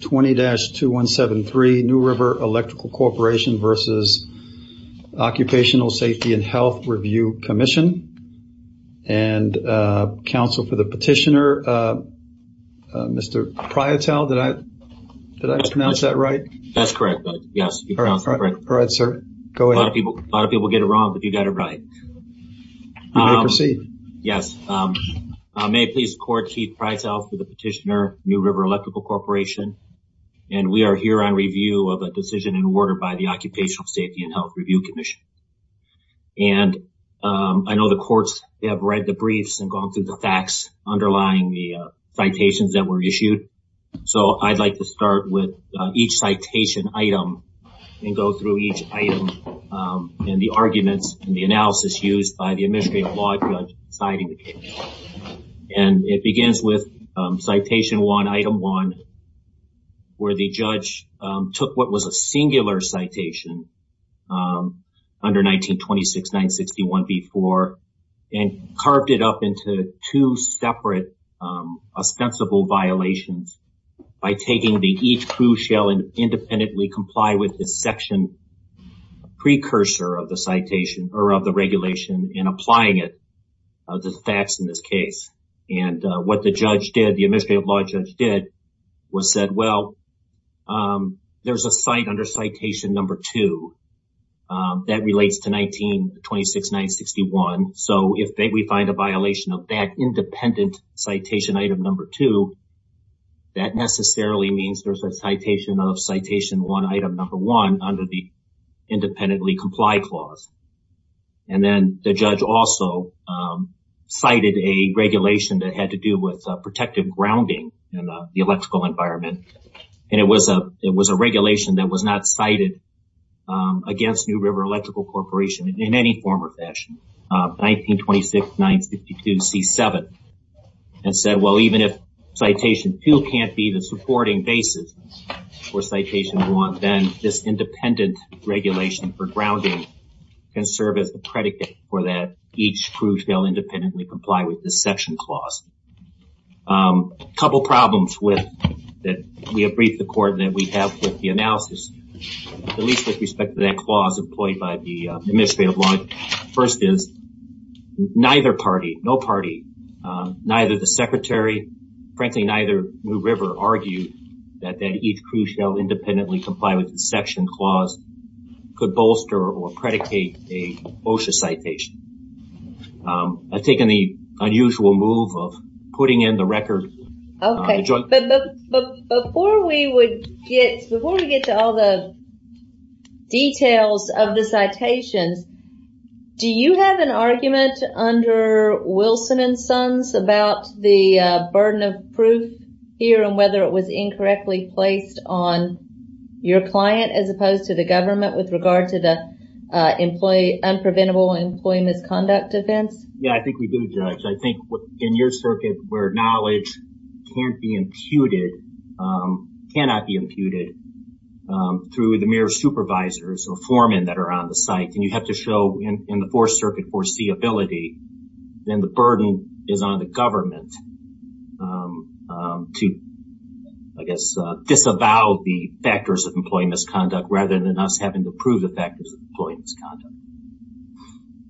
20-2173 New River Electrical Corporation v. Occupational Safety and Health Review Commission and counsel for the petitioner, Mr. Prietel. Did I pronounce that right? That's correct. Yes, you pronounced it correct. All right, sir. Go ahead. A lot of people get it wrong, but you got it right. You may proceed. Yes. May it please the court, Keith Prietel for the petitioner, New River Electrical Corporation, and we are here on review of a decision and order by the Occupational Safety and Health Review Commission. And I know the courts have read the briefs and gone through the facts underlying the citations that were issued. So I'd like to start with each citation item and go through each item and the arguments and the analysis used by the item one, where the judge took what was a singular citation under 1926-961b-4 and carved it up into two separate ostensible violations by taking the each crucial and independently comply with this section precursor of the citation or of the regulation and applying the facts in this case. And what the judge did, the administrative law judge did was said, well, there's a site under citation number two that relates to 1926-961. So if we find a violation of that independent citation item number two, that necessarily means there's a citation of one item number one under the independently comply clause. And then the judge also cited a regulation that had to do with protective grounding in the electrical environment. And it was a regulation that was not cited against New River Electrical Corporation in any form or fashion, 1926-952c-7. And said, well, even if citation two can't be the supporting basis for citation one, then this independent regulation for grounding can serve as the predicate for that each crucial independently comply with this section clause. A couple problems that we have briefed the court and that we have with the analysis, at least with respect to that clause employed by the administrative law. First is neither party, no party, neither the secretary, frankly, neither New River argued that that each crucial independently comply with the section clause could bolster or predicate a OSHA citation. I've taken the unusual move of putting in the record. Okay. But before we would get, before we get to all the details of the citations, do you have an argument under Wilson and Sons about the burden of proof here and whether it was incorrectly placed on your client as opposed to the government with regard to the employee, unpreventable employee misconduct offense? Yeah, I think we do judge. I think in your circuit where knowledge can't be imputed, cannot be imputed through the mere supervisors or foremen that are on the site and you have to show in the fourth circuit foreseeability, then the burden is on the government to, I guess, disavow the factors of employee misconduct rather than us having to prove the factors of employee misconduct.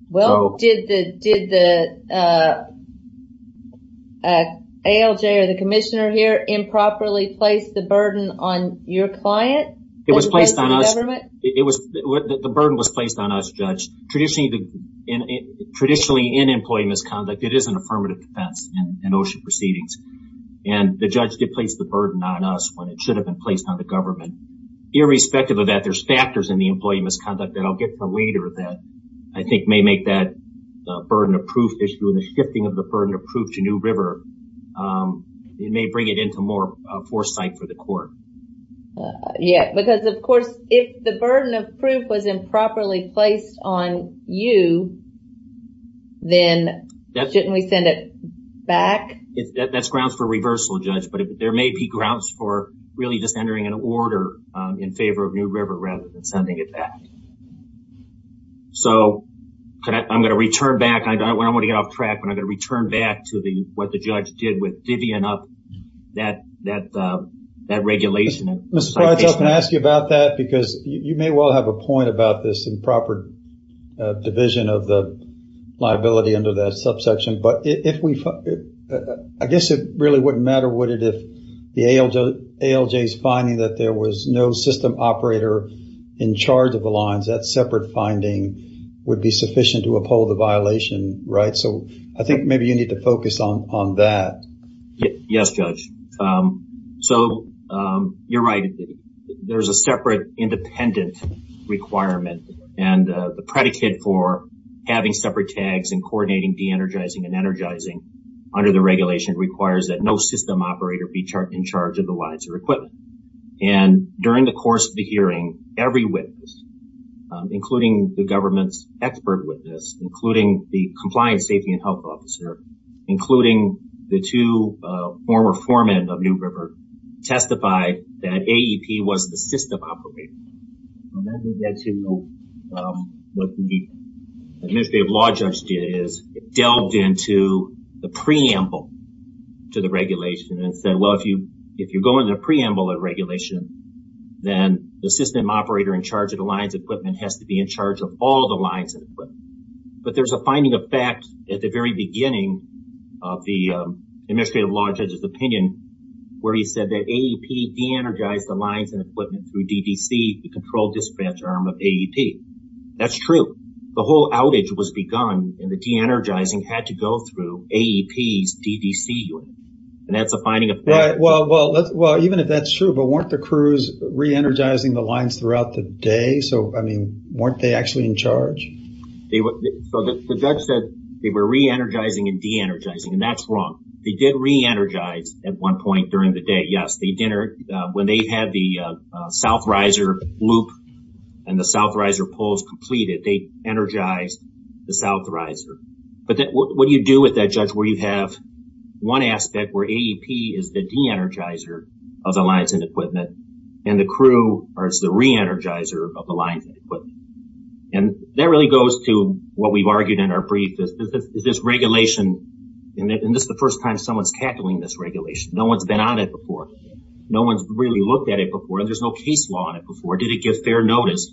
Well, did the ALJ or the commissioner here properly place the burden on your client? It was placed on us. The burden was placed on us, Judge. Traditionally in employee misconduct, it is an affirmative defense in OSHA proceedings. And the judge did place the burden on us when it should have been placed on the government. Irrespective of that, there's factors in the employee misconduct that I'll get to later that I think may make that burden of proof issue and the shifting of the burden of proof to New River. It may bring it into more foresight for the court. Yeah, because of course, if the burden of proof was improperly placed on you, then shouldn't we send it back? That's grounds for reversal, Judge, but there may be grounds for really just entering an order in favor of New River rather than sending it back. So, I'm going to return back. I don't want to get off track, but I'm with Vivian up that regulation. Mr. Price, I can ask you about that because you may well have a point about this improper division of the liability under that subsection. But if we, I guess it really wouldn't matter, would it, if the ALJ's finding that there was no system operator in charge of the lines, that separate finding would be sufficient to uphold the violation, right? So, I think maybe you need to focus on that. Yes, Judge. So, you're right. There's a separate independent requirement and the predicate for having separate tags and coordinating de-energizing and energizing under the regulation requires that no system operator be in charge of the lines or equipment. And during the course of the hearing, every witness, including the government's witness, including the compliance safety and health officer, including the two former foremen of New River, testified that AEP was the system operator. What the administrative law judge did is it delved into the preamble to the regulation and said, well, if you go into the preamble of regulation, then the system operator in charge of the lines equipment has to be in charge of all the lines and equipment. But there's a finding of fact at the very beginning of the administrative law judge's opinion where he said that AEP de-energized the lines and equipment through DDC, the control dispatch arm of AEP. That's true. The whole outage was begun and the de-energizing had to go through AEP's DDC unit. And that's a finding of fact. Well, even if that's true, but weren't the crews re-energizing the lines throughout the day? So, I mean, weren't they actually in charge? So, the judge said they were re-energizing and de-energizing, and that's wrong. They did re-energize at one point during the day. Yes, they did. When they had the south riser loop and the south riser poles completed, they energized the south riser. But what do you do with that, judge, where you have one aspect where AEP is the de-energizer of the lines and equipment, and the crew is the re-energizer of the lines and equipment? And that really goes to what we've argued in our brief, is this regulation, and this is the first time someone's tackling this regulation. No one's been on it before. No one's really looked at it before, and there's no case law on it before. Did it give fair notice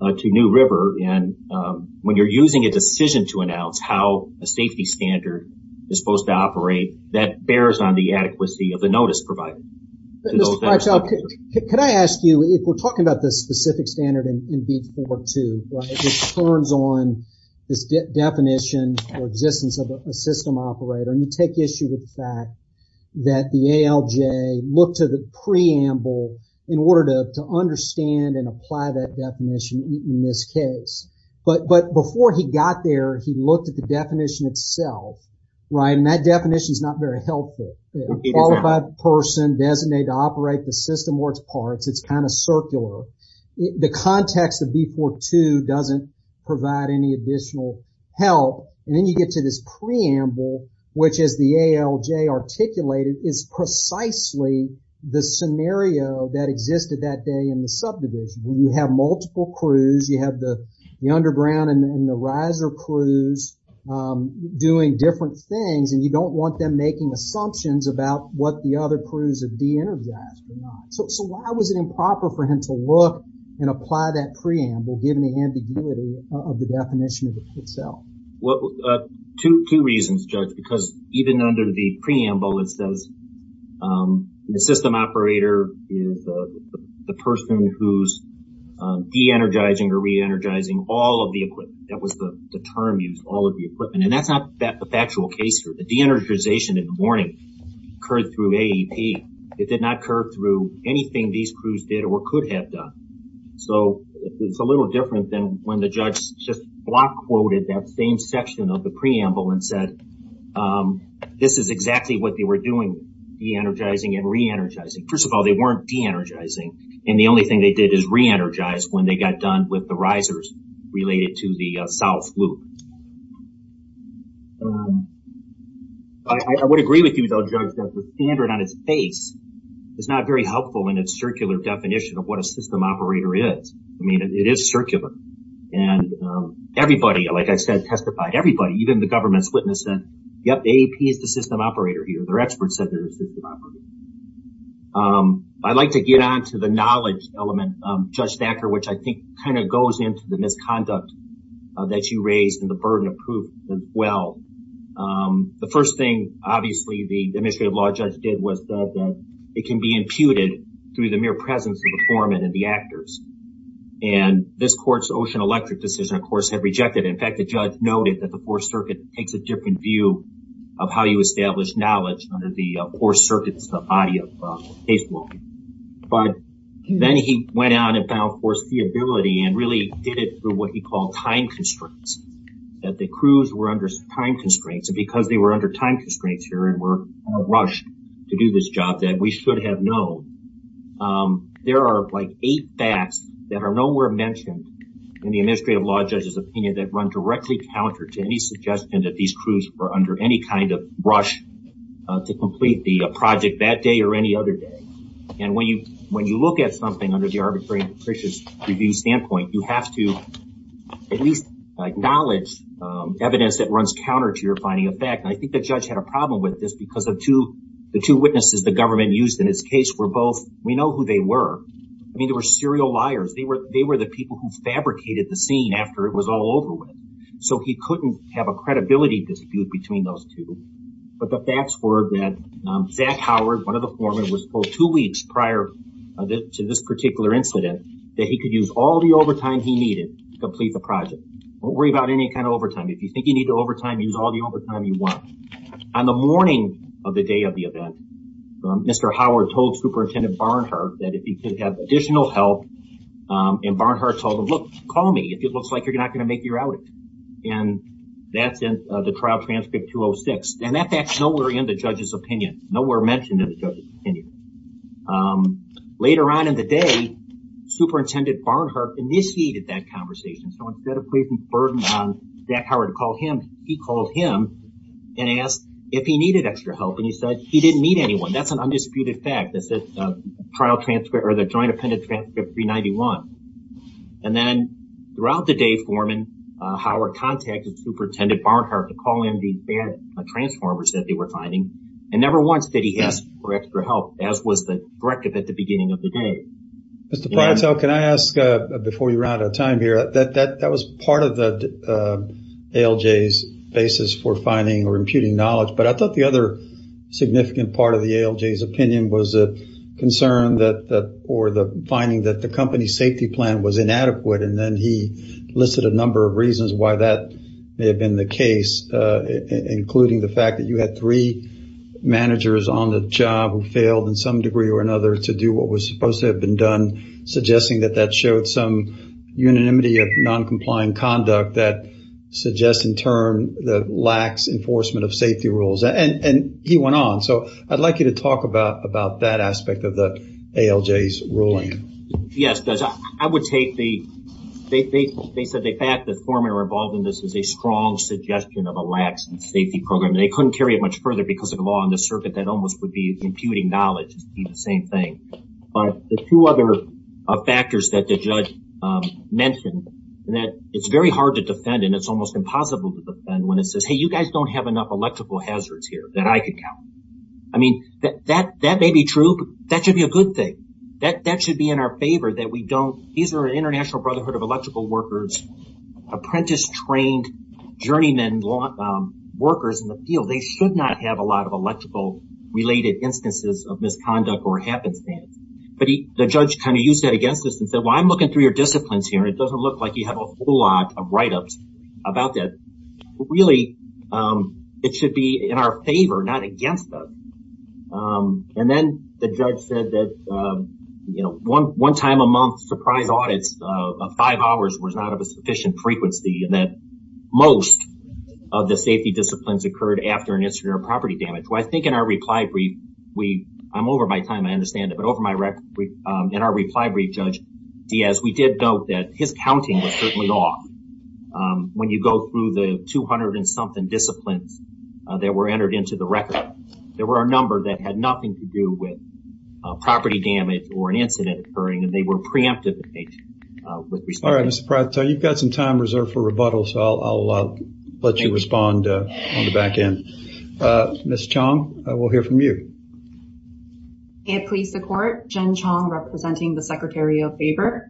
to New River? And when you're using a decision to announce how a safety standard is supposed to operate, that bears on the adequacy of the notice provided. Can I ask you, if we're talking about the specific standard in B-4-2, right, it turns on this definition for existence of a system operator, and you take issue with the fact that the ALJ looked to the preamble in order to understand and apply that definition in this case. But before he got there, he looked at the definition itself, right, and that definition's not very helpful. Qualified person designated to operate the system works parts. It's kind of circular. The context of B-4-2 doesn't provide any additional help. And then you get to this preamble, which is the ALJ articulated, is precisely the scenario that existed that day in the subdivision, where you have multiple crews. You have the underground and the riser crews doing different things, and you don't want them making assumptions about what the other crews have de-energized or not. So why was it improper for him to look and apply that preamble, given the ambiguity of the definition of itself? Well, two reasons, Judge, because even under the preamble, it says the system operator is the person who's de-energizing or re-energizing all of the equipment. And that's not the factual case here. The de-energization in the morning occurred through AEP. It did not occur through anything these crews did or could have done. So it's a little different than when the judge just block quoted that same section of the preamble and said, this is exactly what they were doing, de-energizing and re-energizing. First of all, they weren't de-energizing, and the only thing they did is re-energize when they got done with the risers related to the south loop. I would agree with you, though, Judge, that the standard on its face is not very helpful in its circular definition of what a system operator is. I mean, it is circular, and everybody, like I said, testified, everybody, even the government's witness said, yep, AEP is the system operator here. Their experts said they're the system operator. I'd like to get on to the knowledge element, Judge Thacker, which I think kind of goes into the misconduct that you raised and the burden of proof as well. The first thing, obviously, the administrative law judge did was that it can be imputed through the mere presence of the foreman and the actors. And this court's ocean electric decision, of course, had rejected it. In fact, the judge noted that the Fourth Circuit takes a different view of how you establish knowledge under the Fourth Circuit's body of case law. But then he went out and found, of course, the ability and really did it through what he called time constraints, that the crews were under time constraints and because they were under time constraints here and were rushed to do this job that we should have known. There are like eight facts that are nowhere mentioned in the administrative law judge's opinion that run directly counter to any suggestion that these crews were under any rush to complete the project that day or any other day. And when you look at something under the arbitrary and capricious review standpoint, you have to at least acknowledge evidence that runs counter to your finding of fact. And I think the judge had a problem with this because the two witnesses the government used in his case were both, we know who they were. I mean, they were serial liars. They were the people who fabricated the scene after it was all over with. So he couldn't have a credibility dispute between those two. But the facts were that Zach Howard, one of the foremen, was told two weeks prior to this particular incident that he could use all the overtime he needed to complete the project. Don't worry about any kind of overtime. If you think you need to overtime, use all the overtime you want. On the morning of the day of the event, Mr. Howard told Superintendent Barnhart that if he could have additional help and Barnhart told him, look, call me if it looks like you're not going to make your outing. And that's in the trial transcript 206. And that's nowhere in the judge's opinion. Nowhere mentioned in the judge's opinion. Later on in the day, Superintendent Barnhart initiated that conversation. So instead of putting the burden on Zach Howard to call him, he called him and asked if he needed extra help. And he said he didn't need anyone. That's an undisputed fact. That's the trial transcript or the joint appended transcript 391. And then throughout the day, Foreman Howard contacted Superintendent Barnhart to call in the bad transformers that they were finding. And never once did he ask for extra help, as was the directive at the beginning of the day. Mr. Pryor, can I ask, before we run out of time here, that that was part of the ALJ's basis for finding or imputing knowledge. But I thought the other significant part of the ALJ's opinion was a concern that or the finding that the company's plan was inadequate. And then he listed a number of reasons why that may have been the case, including the fact that you had three managers on the job who failed in some degree or another to do what was supposed to have been done, suggesting that that showed some unanimity of noncompliant conduct that suggests in turn that lacks enforcement of safety rules. And he went on. So I'd like you to talk about that aspect of the ALJ's ruling. Yes, I would take the, they said the fact that foremen were involved in this is a strong suggestion of a lax safety program. They couldn't carry it much further because of the law on the circuit that almost would be imputing knowledge. It'd be the same thing. But the two other factors that the judge mentioned, that it's very hard to defend and it's almost impossible to defend when it says, hey, you guys don't have enough electrical hazards here that I could count. I mean, that may be true, but that should be a good thing. That should be in our favor that we don't, these are an international brotherhood of electrical workers, apprentice trained journeyman workers in the field. They should not have a lot of electrical related instances of misconduct or happenstance. But the judge kind of used that against us and said, well, I'm looking through your disciplines here. It doesn't look like you have a whole lot of write-ups about that. Really, it should be in our favor, not against us. And then the judge said that, you know, one time a month surprise audits of five hours was not of a sufficient frequency and that most of the safety disciplines occurred after an incident of property damage. Well, I think in our reply brief, I'm over my time, I understand it, but in our reply brief, Judge Diaz, we did note that his counting was certainly off. When you go through the 200 and something disciplines that were entered into the record, there were a number that had nothing to do with property damage or an incident occurring and they were preemptive. All right, Mr. Pratt, you've got some time reserved for rebuttal, so I'll let you respond on the back end. Ms. Chong, we'll hear from you. Can it please the court, Jen Chong representing the Secretary of Labor.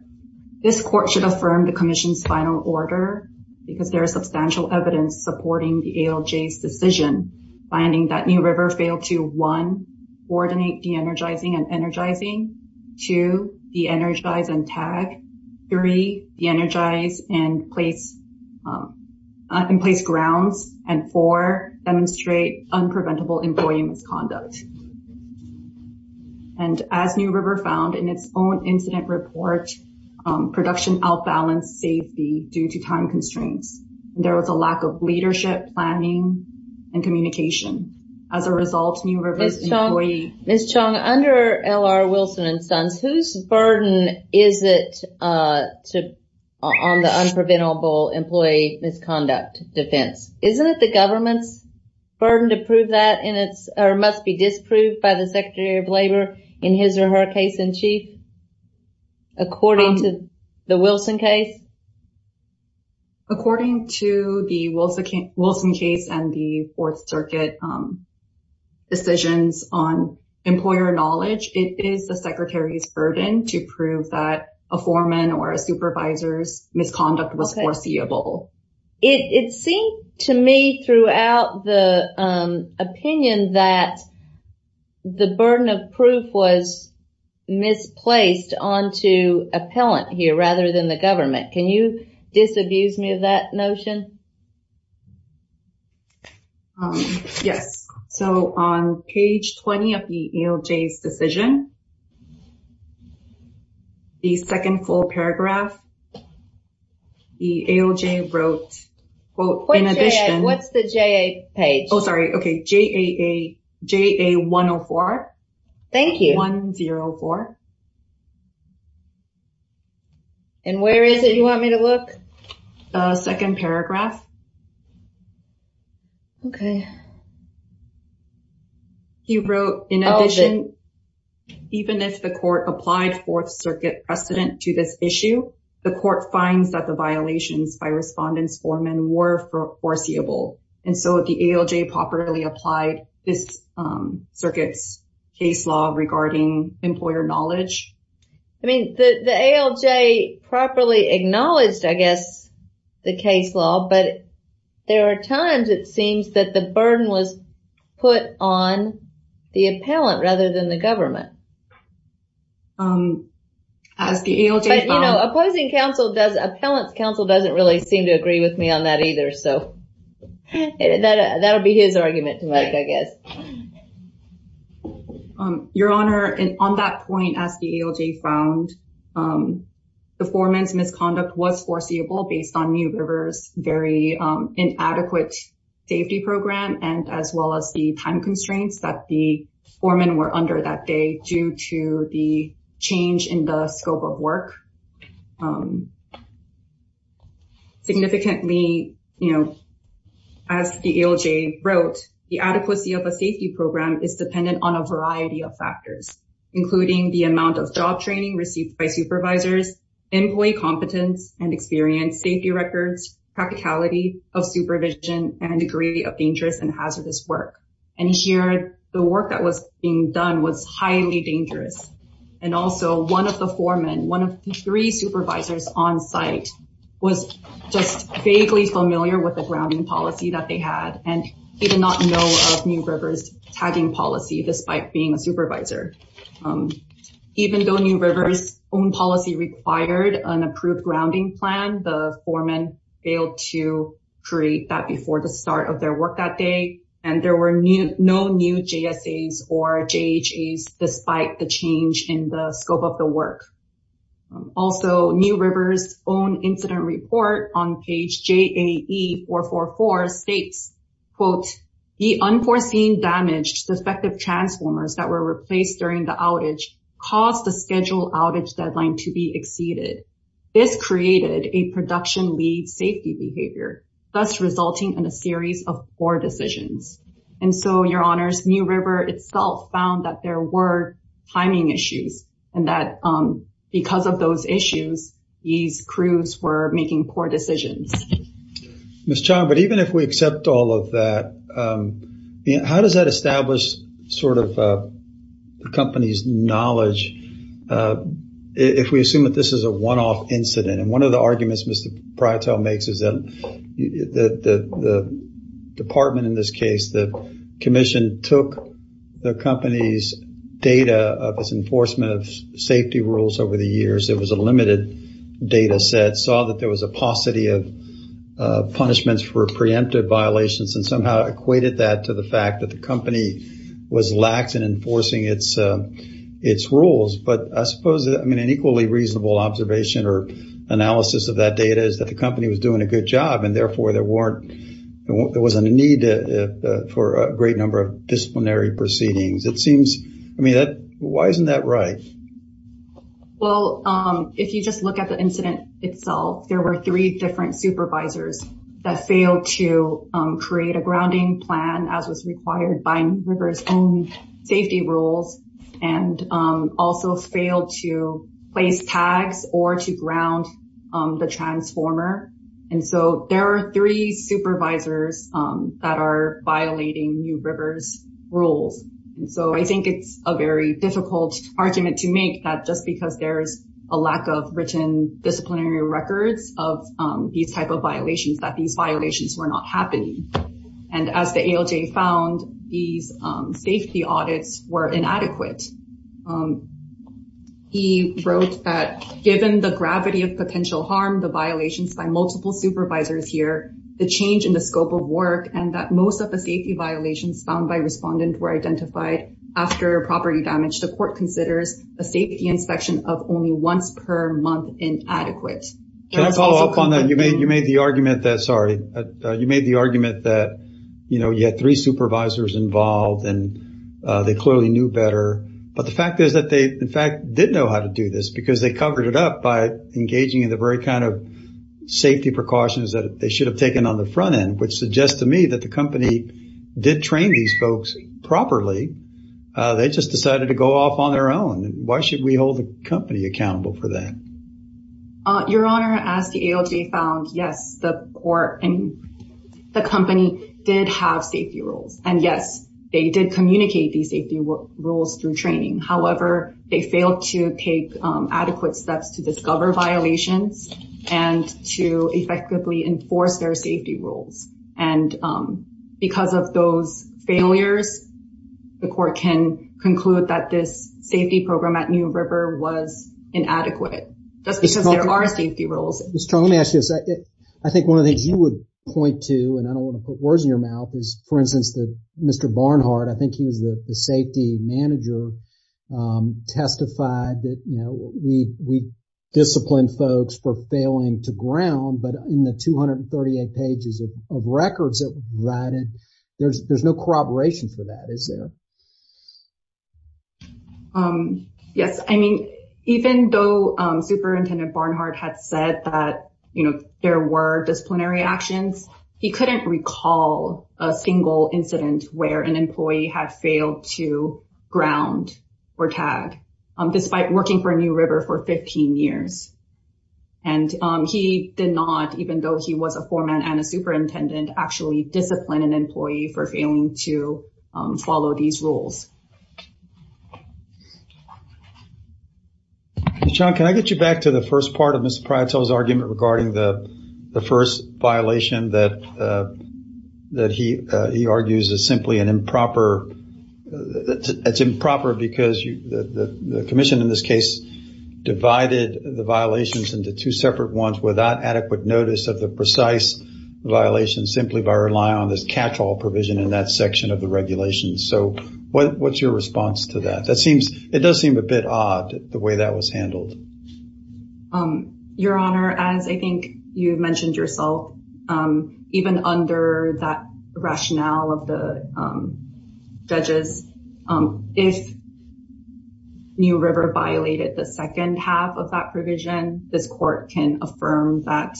This court should affirm the commission's final order because there is substantial evidence supporting the ALJ's decision, finding that New River failed to, one, coordinate de-energizing and energizing, two, de-energize and tag, three, de-energize and place grounds, and four, demonstrate unpreventable employee misconduct. And as New River found in its own incident report, production out-balanced safety due to time constraints. There was a lack of leadership, planning, and communication. As a result, New River's employee... Ms. Chong, under L.R. Wilson and Sons, whose burden is it on the unpreventable employee misconduct defense, isn't it the government's burden to prove that, and it must be disproved by the Secretary of Labor in his or her case-in-chief, according to the Wilson case? According to the Wilson case and the Fourth Circuit decisions on employer knowledge, it is the Secretary's burden to prove that a foreman or a supervisor's misconduct was foreseeable. It seemed to me throughout the opinion that the burden of proof was misplaced onto appellant here rather than the government. Can you disabuse me of that notion? Yes. So on page 20 of the ALJ's decision, the second full paragraph, the ALJ wrote, quote, in addition... What's the JA page? Oh, sorry. Okay. JA104. Thank you. 1-0-4. And where is it you want me to look? Second paragraph. Okay. He wrote, in addition... Even if the court applied Fourth Circuit precedent to this issue, the court finds that the violations by respondents foreman were foreseeable, and so the ALJ properly applied this circuit's case law regarding employer knowledge. I mean, the ALJ properly acknowledged, I guess, the case law, but there are times it seems that the burden was put on the appellant rather than the government. As the ALJ found... But, you know, opposing counsel does... Appellant's counsel doesn't really seem to agree with me on that either, so that'll be his argument to make, I guess. Your Honor, on that point, as the ALJ found the foreman's misconduct was foreseeable based on Mu River's very inadequate safety program, and as well as the time constraints that the foreman were under that day due to the change in the scope of work. Significantly, you know, as the ALJ wrote, the adequacy of a safety program is dependent on a variety of factors, including the amount of job training received by supervisors, employee competence and experience, safety records, practicality of supervision, and degree of dangerous and hazardous work. And here, the work that was being done was highly dangerous, and also one of the foremen, one of the three supervisors on site was just vaguely familiar with the grounding policy that they had, and he did not know of Mu River's tagging policy despite being a supervisor. Even though Mu River's own policy required an approved grounding plan, the foreman failed to create that before the start of their work that day, and there were no new JSAs or JHAs despite the change in the scope of the work. Also, Mu River's own incident report on page caused the schedule outage deadline to be exceeded. This created a production lead safety behavior, thus resulting in a series of poor decisions. And so, your honors, Mu River itself found that there were timing issues, and that because of those issues, these crews were making poor decisions. Miss Chan, but even if we accept all of that, you know, how does that establish sort of the company's knowledge? If we assume that this is a one-off incident, and one of the arguments Mr. Prytel makes is that the department in this case, the commission took the company's data of its enforcement of safety rules over the years, it was a limited data set, saw that there was a paucity of punishments for preemptive violations, and somehow equated that to the fact that the company was lax in enforcing its rules. But I suppose, I mean, an equally reasonable observation or analysis of that data is that the company was doing a good job, and therefore, there wasn't a need for a great number of disciplinary proceedings. It seems, I mean, why isn't that right? Well, if you just look at the incident itself, there were three different supervisors that failed to create a grounding plan as was required by Rivers' own safety rules, and also failed to place tags or to ground the transformer. And so, there are three supervisors that are violating New Rivers' rules. And so, I think it's a very difficult argument to these type of violations that these violations were not happening. And as the ALJ found, these safety audits were inadequate. He wrote that, given the gravity of potential harm, the violations by multiple supervisors here, the change in the scope of work, and that most of the safety violations found by respondent were identified after property damage, the court considers a safety inspection of only once per month inadequate. Can I follow up on that? You made the argument that, sorry, you made the argument that, you know, you had three supervisors involved and they clearly knew better. But the fact is that they, in fact, did know how to do this because they covered it up by engaging in the very kind of safety precautions that they should have taken on the front end, which suggests to me that the company did train these folks properly. They just decided to go off on their own. Why should we hold the company accountable for that? Your Honor, as the ALJ found, yes, the company did have safety rules. And yes, they did communicate these safety rules through training. However, they failed to take adequate steps to discover violations and to effectively enforce their safety rules. And because of those failures, the court can conclude that this safety program at New River was inadequate. That's because there are safety rules. Ms. Chong, let me ask you a second. I think one of the things you would point to, and I don't want to put words in your mouth, is, for instance, that Mr. Barnhart, I think he was the safety manager, testified that, you know, we disciplined folks for failing to ground, but in the 238 pages of records that were provided, there's no corroboration for that, is there? Yes. I mean, even though Superintendent Barnhart had said that, you know, there were disciplinary actions, he couldn't recall a single incident where an employee had failed to ground or tag, despite working for New River for 15 years. And he did not, even though he was a foreman and a superintendent, actually discipline an employee for failing to follow these rules. Ms. Chong, can I get you back to the first part of Mr. Pryor's argument regarding the first violation that he argues is simply an improper, it's improper because the commission in this case divided the violations into two separate ones without adequate notice of the precise violation, simply by relying on this catch-all provision in that section of the regulations. So what's your response to that? That seems, it does seem a bit odd the way that was handled. Your Honor, as I think you mentioned yourself, even under that rationale of the the second half of that provision, this court can affirm that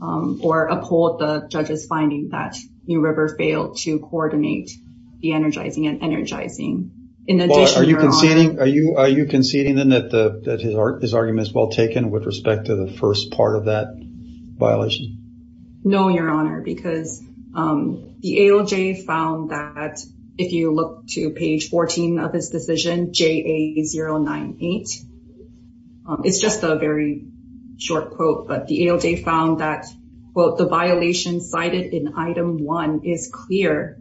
or uphold the judge's finding that New River failed to coordinate the energizing and energizing. Are you conceding then that his argument is well taken with respect to the first part of that violation? No, Your Honor, because the ALJ found that if you look to page 14 of his decision, JA098, it's just a very short quote, but the ALJ found that, quote, the violation cited in item one is clear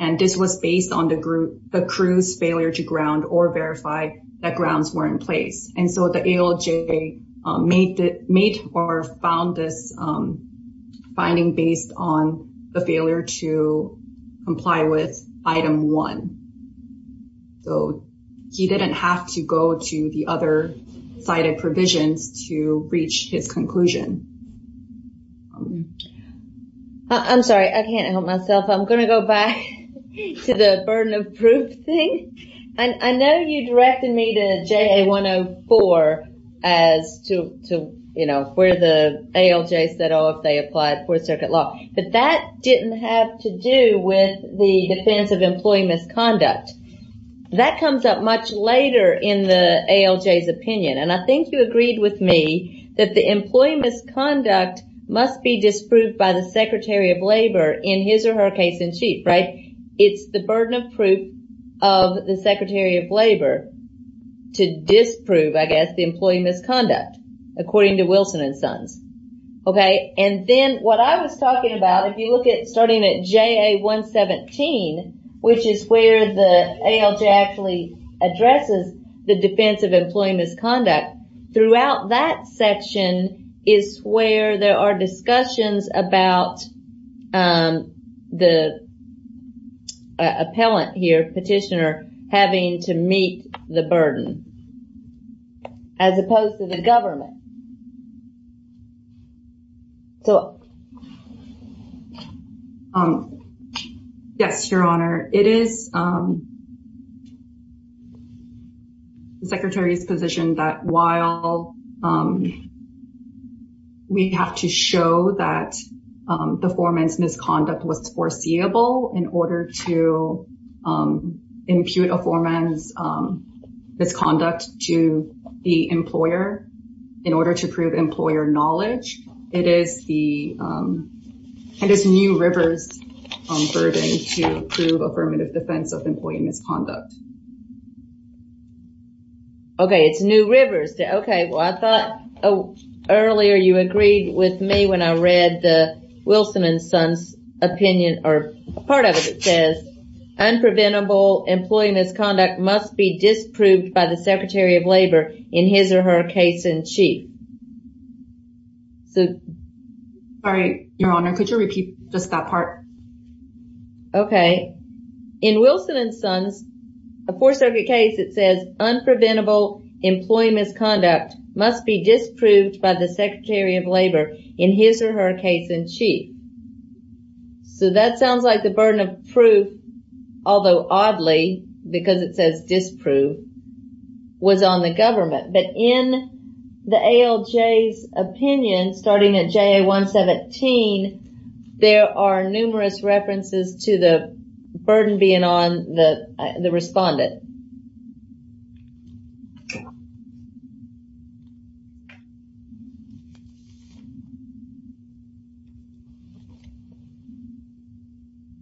and this was based on the crew's failure to ground or verify that grounds were in place. And so the ALJ made or found this finding based on the failure to comply with item one. So he didn't have to go to the other cited provisions to reach his conclusion. I'm sorry, I can't help myself. I'm going to go back to the burden of proof thing. I know you directed me to JA104 as to, you know, where the ALJ said, oh, if they applied fourth circuit law, but that didn't have to do with the defense of employee misconduct. That comes up much later in the ALJ's opinion. And I think you agreed with me that the employee misconduct must be disproved by the Secretary of Labor in his or her case in chief, right? It's the burden of proof of the Secretary of Labor to disprove, I guess, the employee misconduct, according to Wilson and Sons. Okay. And then what I was talking about, if you look at starting at JA117, which is where the ALJ actually addresses the defense of employee misconduct, throughout that section is where there are discussions about the appellant here, petitioner, having to meet the burden, as opposed to the government. So, yes, Your Honor, it is the Secretary's position that while we have to show that the foreman's misconduct was foreseeable in order to prove employer knowledge, it is the, it is New River's burden to prove affirmative defense of employee misconduct. Okay, it's New River's. Okay, well, I thought earlier you agreed with me when I read the Wilson and Sons opinion, or part of it says, unpreventable employee misconduct must be disproved by the Secretary of Labor in his or her case in chief. Sorry, Your Honor, could you repeat just that part? Okay. In Wilson and Sons, a four circuit case, it says, unpreventable employee misconduct must be disproved by the Secretary of Labor in his or her case in chief. So, that sounds like the burden of proof, although oddly, because it says disproved, was on the government. But in the ALJ's opinion, starting at JA 117, there are numerous references to the burden being on the respondent.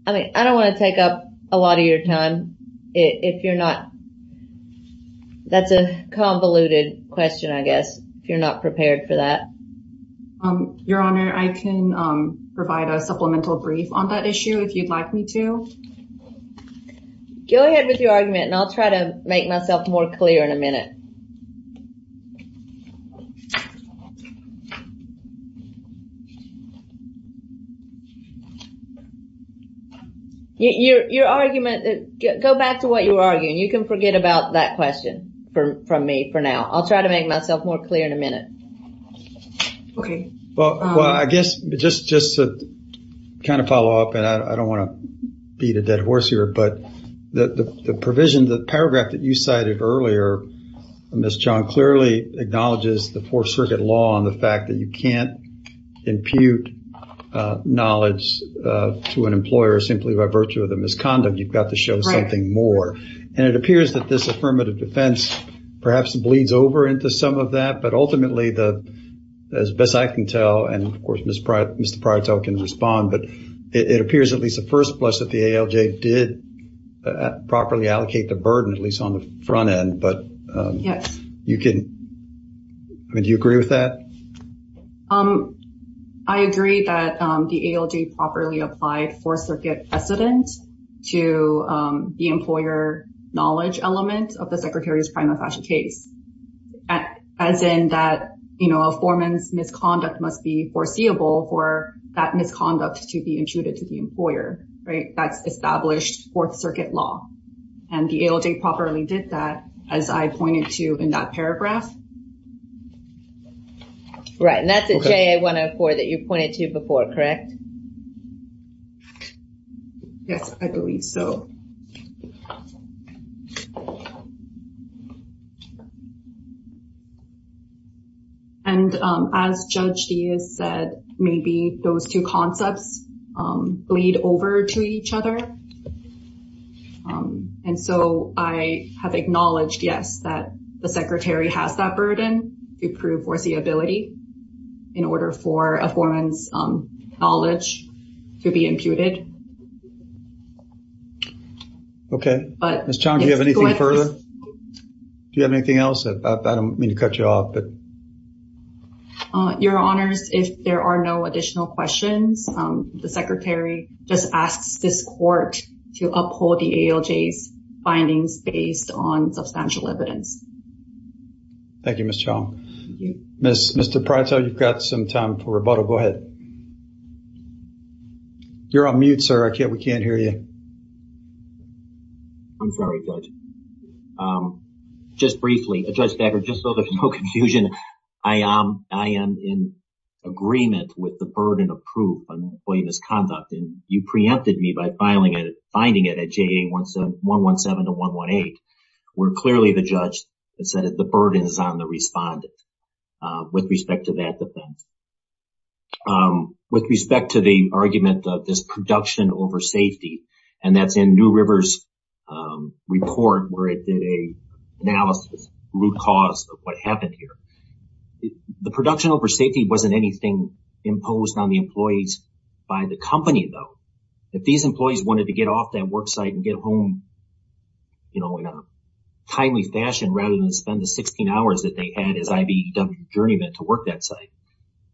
I mean, I don't want to take up a lot of your time if you're not, that's a convoluted question, I guess, if you're not prepared for that. Your Honor, I can provide a supplemental brief on that issue if you'd like me to. Go ahead with your argument and I'll try to make myself more clear in a minute. Your argument, go back to what you were arguing. You can forget about that question from me for now. I'll try to make myself more clear in a minute. Well, I guess just to kind of follow up, and I don't want to beat a dead horse here, but the provision, the paragraph that you cited earlier, Ms. Chong, clearly acknowledges the four circuit law on the fact that you can't impute knowledge to an employer simply by virtue of the misconduct. You've got to show something more. And it appears that this affirmative but ultimately, as best I can tell, and of course, Mr. Prieto can respond, but it appears at least the first place that the ALJ did properly allocate the burden, at least on the front end, but do you agree with that? I agree that the ALJ properly applied four circuit precedent to the employer knowledge element of the Secretary's prima facie case. As in that, you know, a foreman's misconduct must be foreseeable for that misconduct to be intruded to the employer, right? That's established fourth circuit law, and the ALJ properly did that as I pointed to in that paragraph. Right, and that's a JA-104 that you pointed to before, correct? Yes, I believe so. And as Judge Diaz said, maybe those two concepts bleed over to each other. And so I have acknowledged, yes, that the Secretary has that burden to prove foreseeability in order for a foreman's knowledge to be imputed. Okay, Ms. Chong, do you have anything further? Do you have anything else? I don't mean to cut you off, but... Your Honors, if there are no additional questions, the Secretary just asks this court to uphold the ALJ's findings based on substantial evidence. Thank you, Ms. Chong. Mr. Prieto, you've got some time for rebuttal. Go ahead. You're on mute, sir. We can't hear you. I'm sorry, Judge. Just briefly, Judge Becker, just so there's no confusion, I am in agreement with the burden of proof on employee misconduct, and you preempted me by finding it at JA-117 to 118, where clearly the judge had said that the burden is on the respondent with respect to that over safety, and that's in New River's report where it did an analysis, root cause of what happened here. The production over safety wasn't anything imposed on the employees by the company, though. If these employees wanted to get off that work site and get home, you know, in a timely fashion rather than spend the 16 hours that they had as IBEW journeymen to work that site.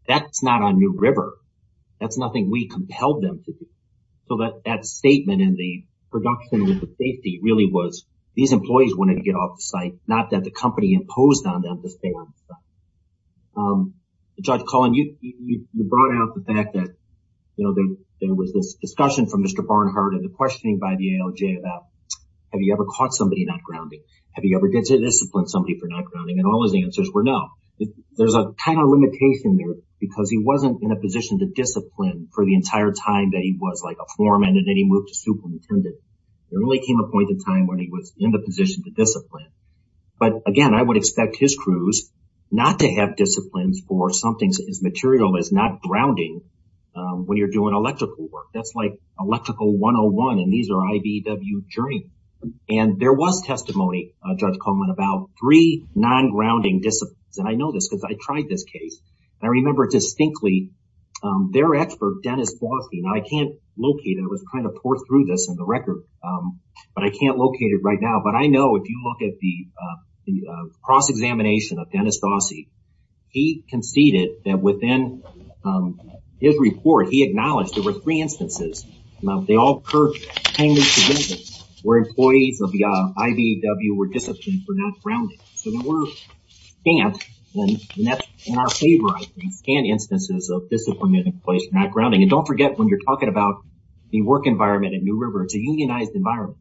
That's not on New River. That's nothing we compelled them to do. So that statement in the production safety really was these employees wanted to get off the site, not that the company imposed on them to stay on the site. Judge Cullen, you brought out the fact that, you know, there was this discussion from Mr. Barnhart and the questioning by the ALJ about, have you ever caught somebody not grounding? Have you ever disciplined somebody for not There's a kind of limitation there because he wasn't in a position to discipline for the entire time that he was like a foreman and then he moved to superintendent. There really came a point in time when he was in the position to discipline. But again, I would expect his crews not to have disciplines for something as material as not grounding when you're doing electrical work. That's like electrical 101 and these are IBEW journeymen. And there was testimony, Judge I know this because I tried this case. I remember distinctly their expert, Dennis Gossie, and I can't locate it. I was trying to pour through this in the record, but I can't locate it right now. But I know if you look at the cross-examination of Dennis Gossie, he conceded that within his report, he acknowledged there were three instances where employees of the IBEW were disciplined for not grounding. So there were scans, and that's in our favor, I think, scan instances of disciplined employees for not grounding. And don't forget when you're talking about the work environment at New River, it's a unionized environment.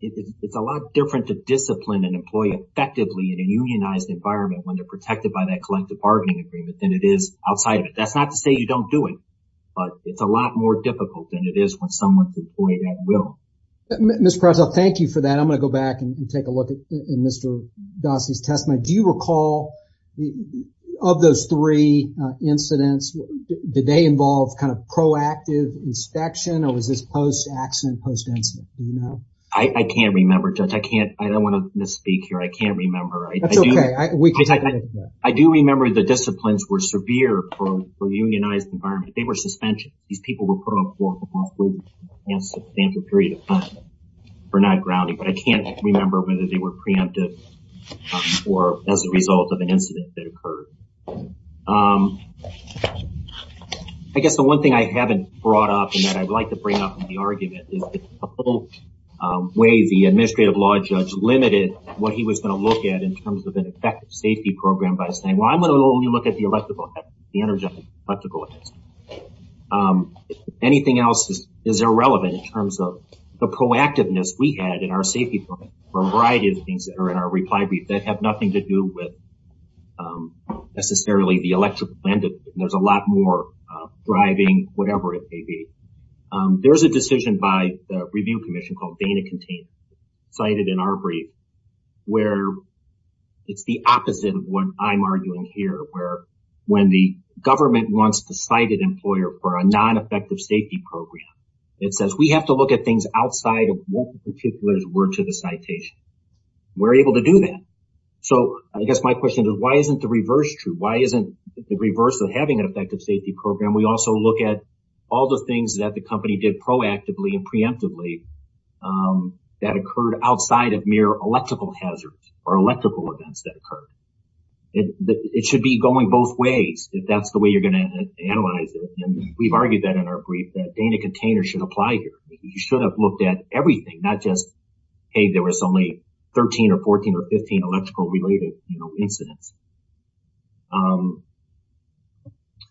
It's a lot different to discipline an employee effectively in a unionized environment when they're protected by that collective bargaining agreement than it is outside of it. That's not to say you don't do it, but it's a lot more difficult than it is when someone's employed at will. Mr. Prezel, thank you for that. I'm going to go back and take a look at Mr. Gossie's testimony. Do you recall of those three incidents, did they involve kind of proactive inspection, or was this post-accident, post-incident? Do you know? I can't remember, Judge. I don't want to misspeak here. I can't remember. That's okay. We can take a look at that. I do remember the disciplines were severe for a unionized environment. They were suspension. These people were put on parole for a period of time for not grounding, but I can't remember whether they were preempted or as a result of an incident that occurred. I guess the one thing I haven't brought up and that I'd like to bring up in the argument is the whole way the administrative law judge limited what he was going to look at in terms of an effective safety program by saying, well, I'm going to only look at the electrical, the energetic, electrical. Anything else is irrelevant in terms of the proactiveness we had in our safety program for a variety of things that are in our reply brief that have nothing to do with necessarily the electrical end of it. There's a lot more driving whatever it may be. There's a decision by the review commission called Dana containment cited in our brief where it's the opposite of what I'm arguing here, where when the government wants to cite an employer for a non-effective safety program, it says we have to look at things outside of what the particulars were to the citation. We're able to do that. I guess my question is, why isn't the reverse true? Why isn't the reverse of having an effective safety program? We also look at all the things that the company did proactively and preemptively that occurred outside of mere electrical hazards or electrical events that occurred. It should be going both ways if that's the way you're going to analyze it. We've argued that in our brief that Dana container should apply here. You should have looked at everything, not just, hey, there was only 13 or 14 or 15 electrical related incidents.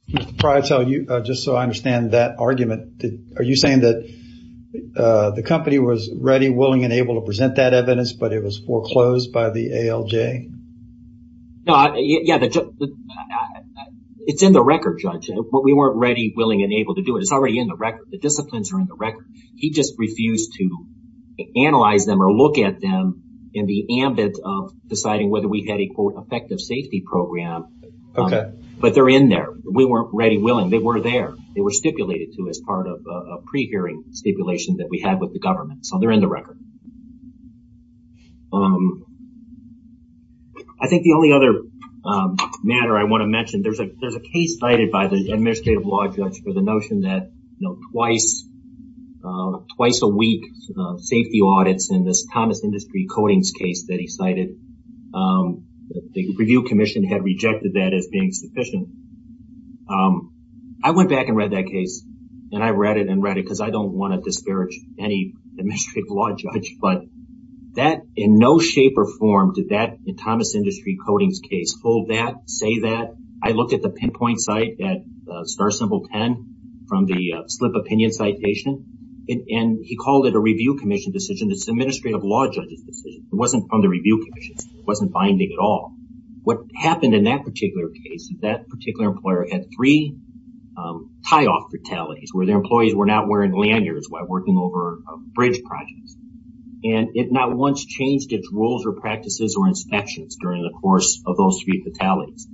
Just so I understand that argument, are you saying that the company was ready, willing, and able to present that evidence, but it was foreclosed by the ALJ? It's in the record, Judge. We weren't ready, willing, and able to do it. It's already in the record. The disciplines are in the record. He just refused to analyze them or look at them in the ambit of deciding whether we had a quote effective safety program, but they're in there. We weren't ready, willing. They were there. They were stipulated to as part of a pre-hearing stipulation that we had with the government. They're in the record. I think the only other matter I want to mention, there's a case cited by the administrative law judge for the notion that twice a week safety audits in this Thomas Industry Codings case that he cited, the review commission had rejected that as being sufficient. I went back and read that case, and I read it and read it because I don't want to disparage any administrative law judge, but that in no shape or form did that in Thomas Industry Codings case hold that, say that. I looked at the pinpoint site at star symbol 10 from the slip opinion citation, and he called it a review commission decision. It's an administrative law judge's decision. It wasn't from the review commission. It wasn't binding at all. What happened in that case, that particular employer had three tie-off fatalities where their employees were not wearing lanyards while working over a bridge project. It not once changed its rules or practices or inspections during the course of those three fatalities.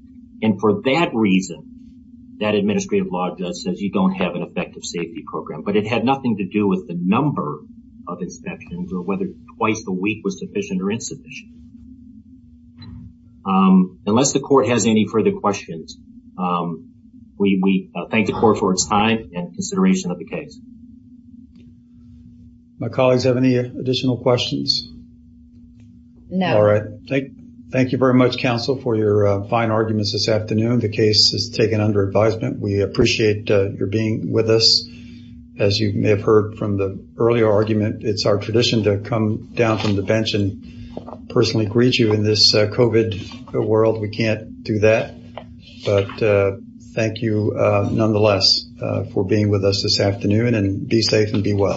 For that reason, that administrative law judge says you don't have an effective safety program, but it had nothing to do with the number of inspections or whether twice a week was sufficient or insufficient. Unless the court has any further questions, we thank the court for its time and consideration of the case. My colleagues have any additional questions? No. All right. Thank you very much, counsel, for your fine arguments this afternoon. The case is taken under advisement. We appreciate your being with us. As you may have heard from the earlier argument, it's our tradition to come down from the bench and personally greet you in this COVID world. We can't do that, but thank you nonetheless for being with us this afternoon. Be safe and be well.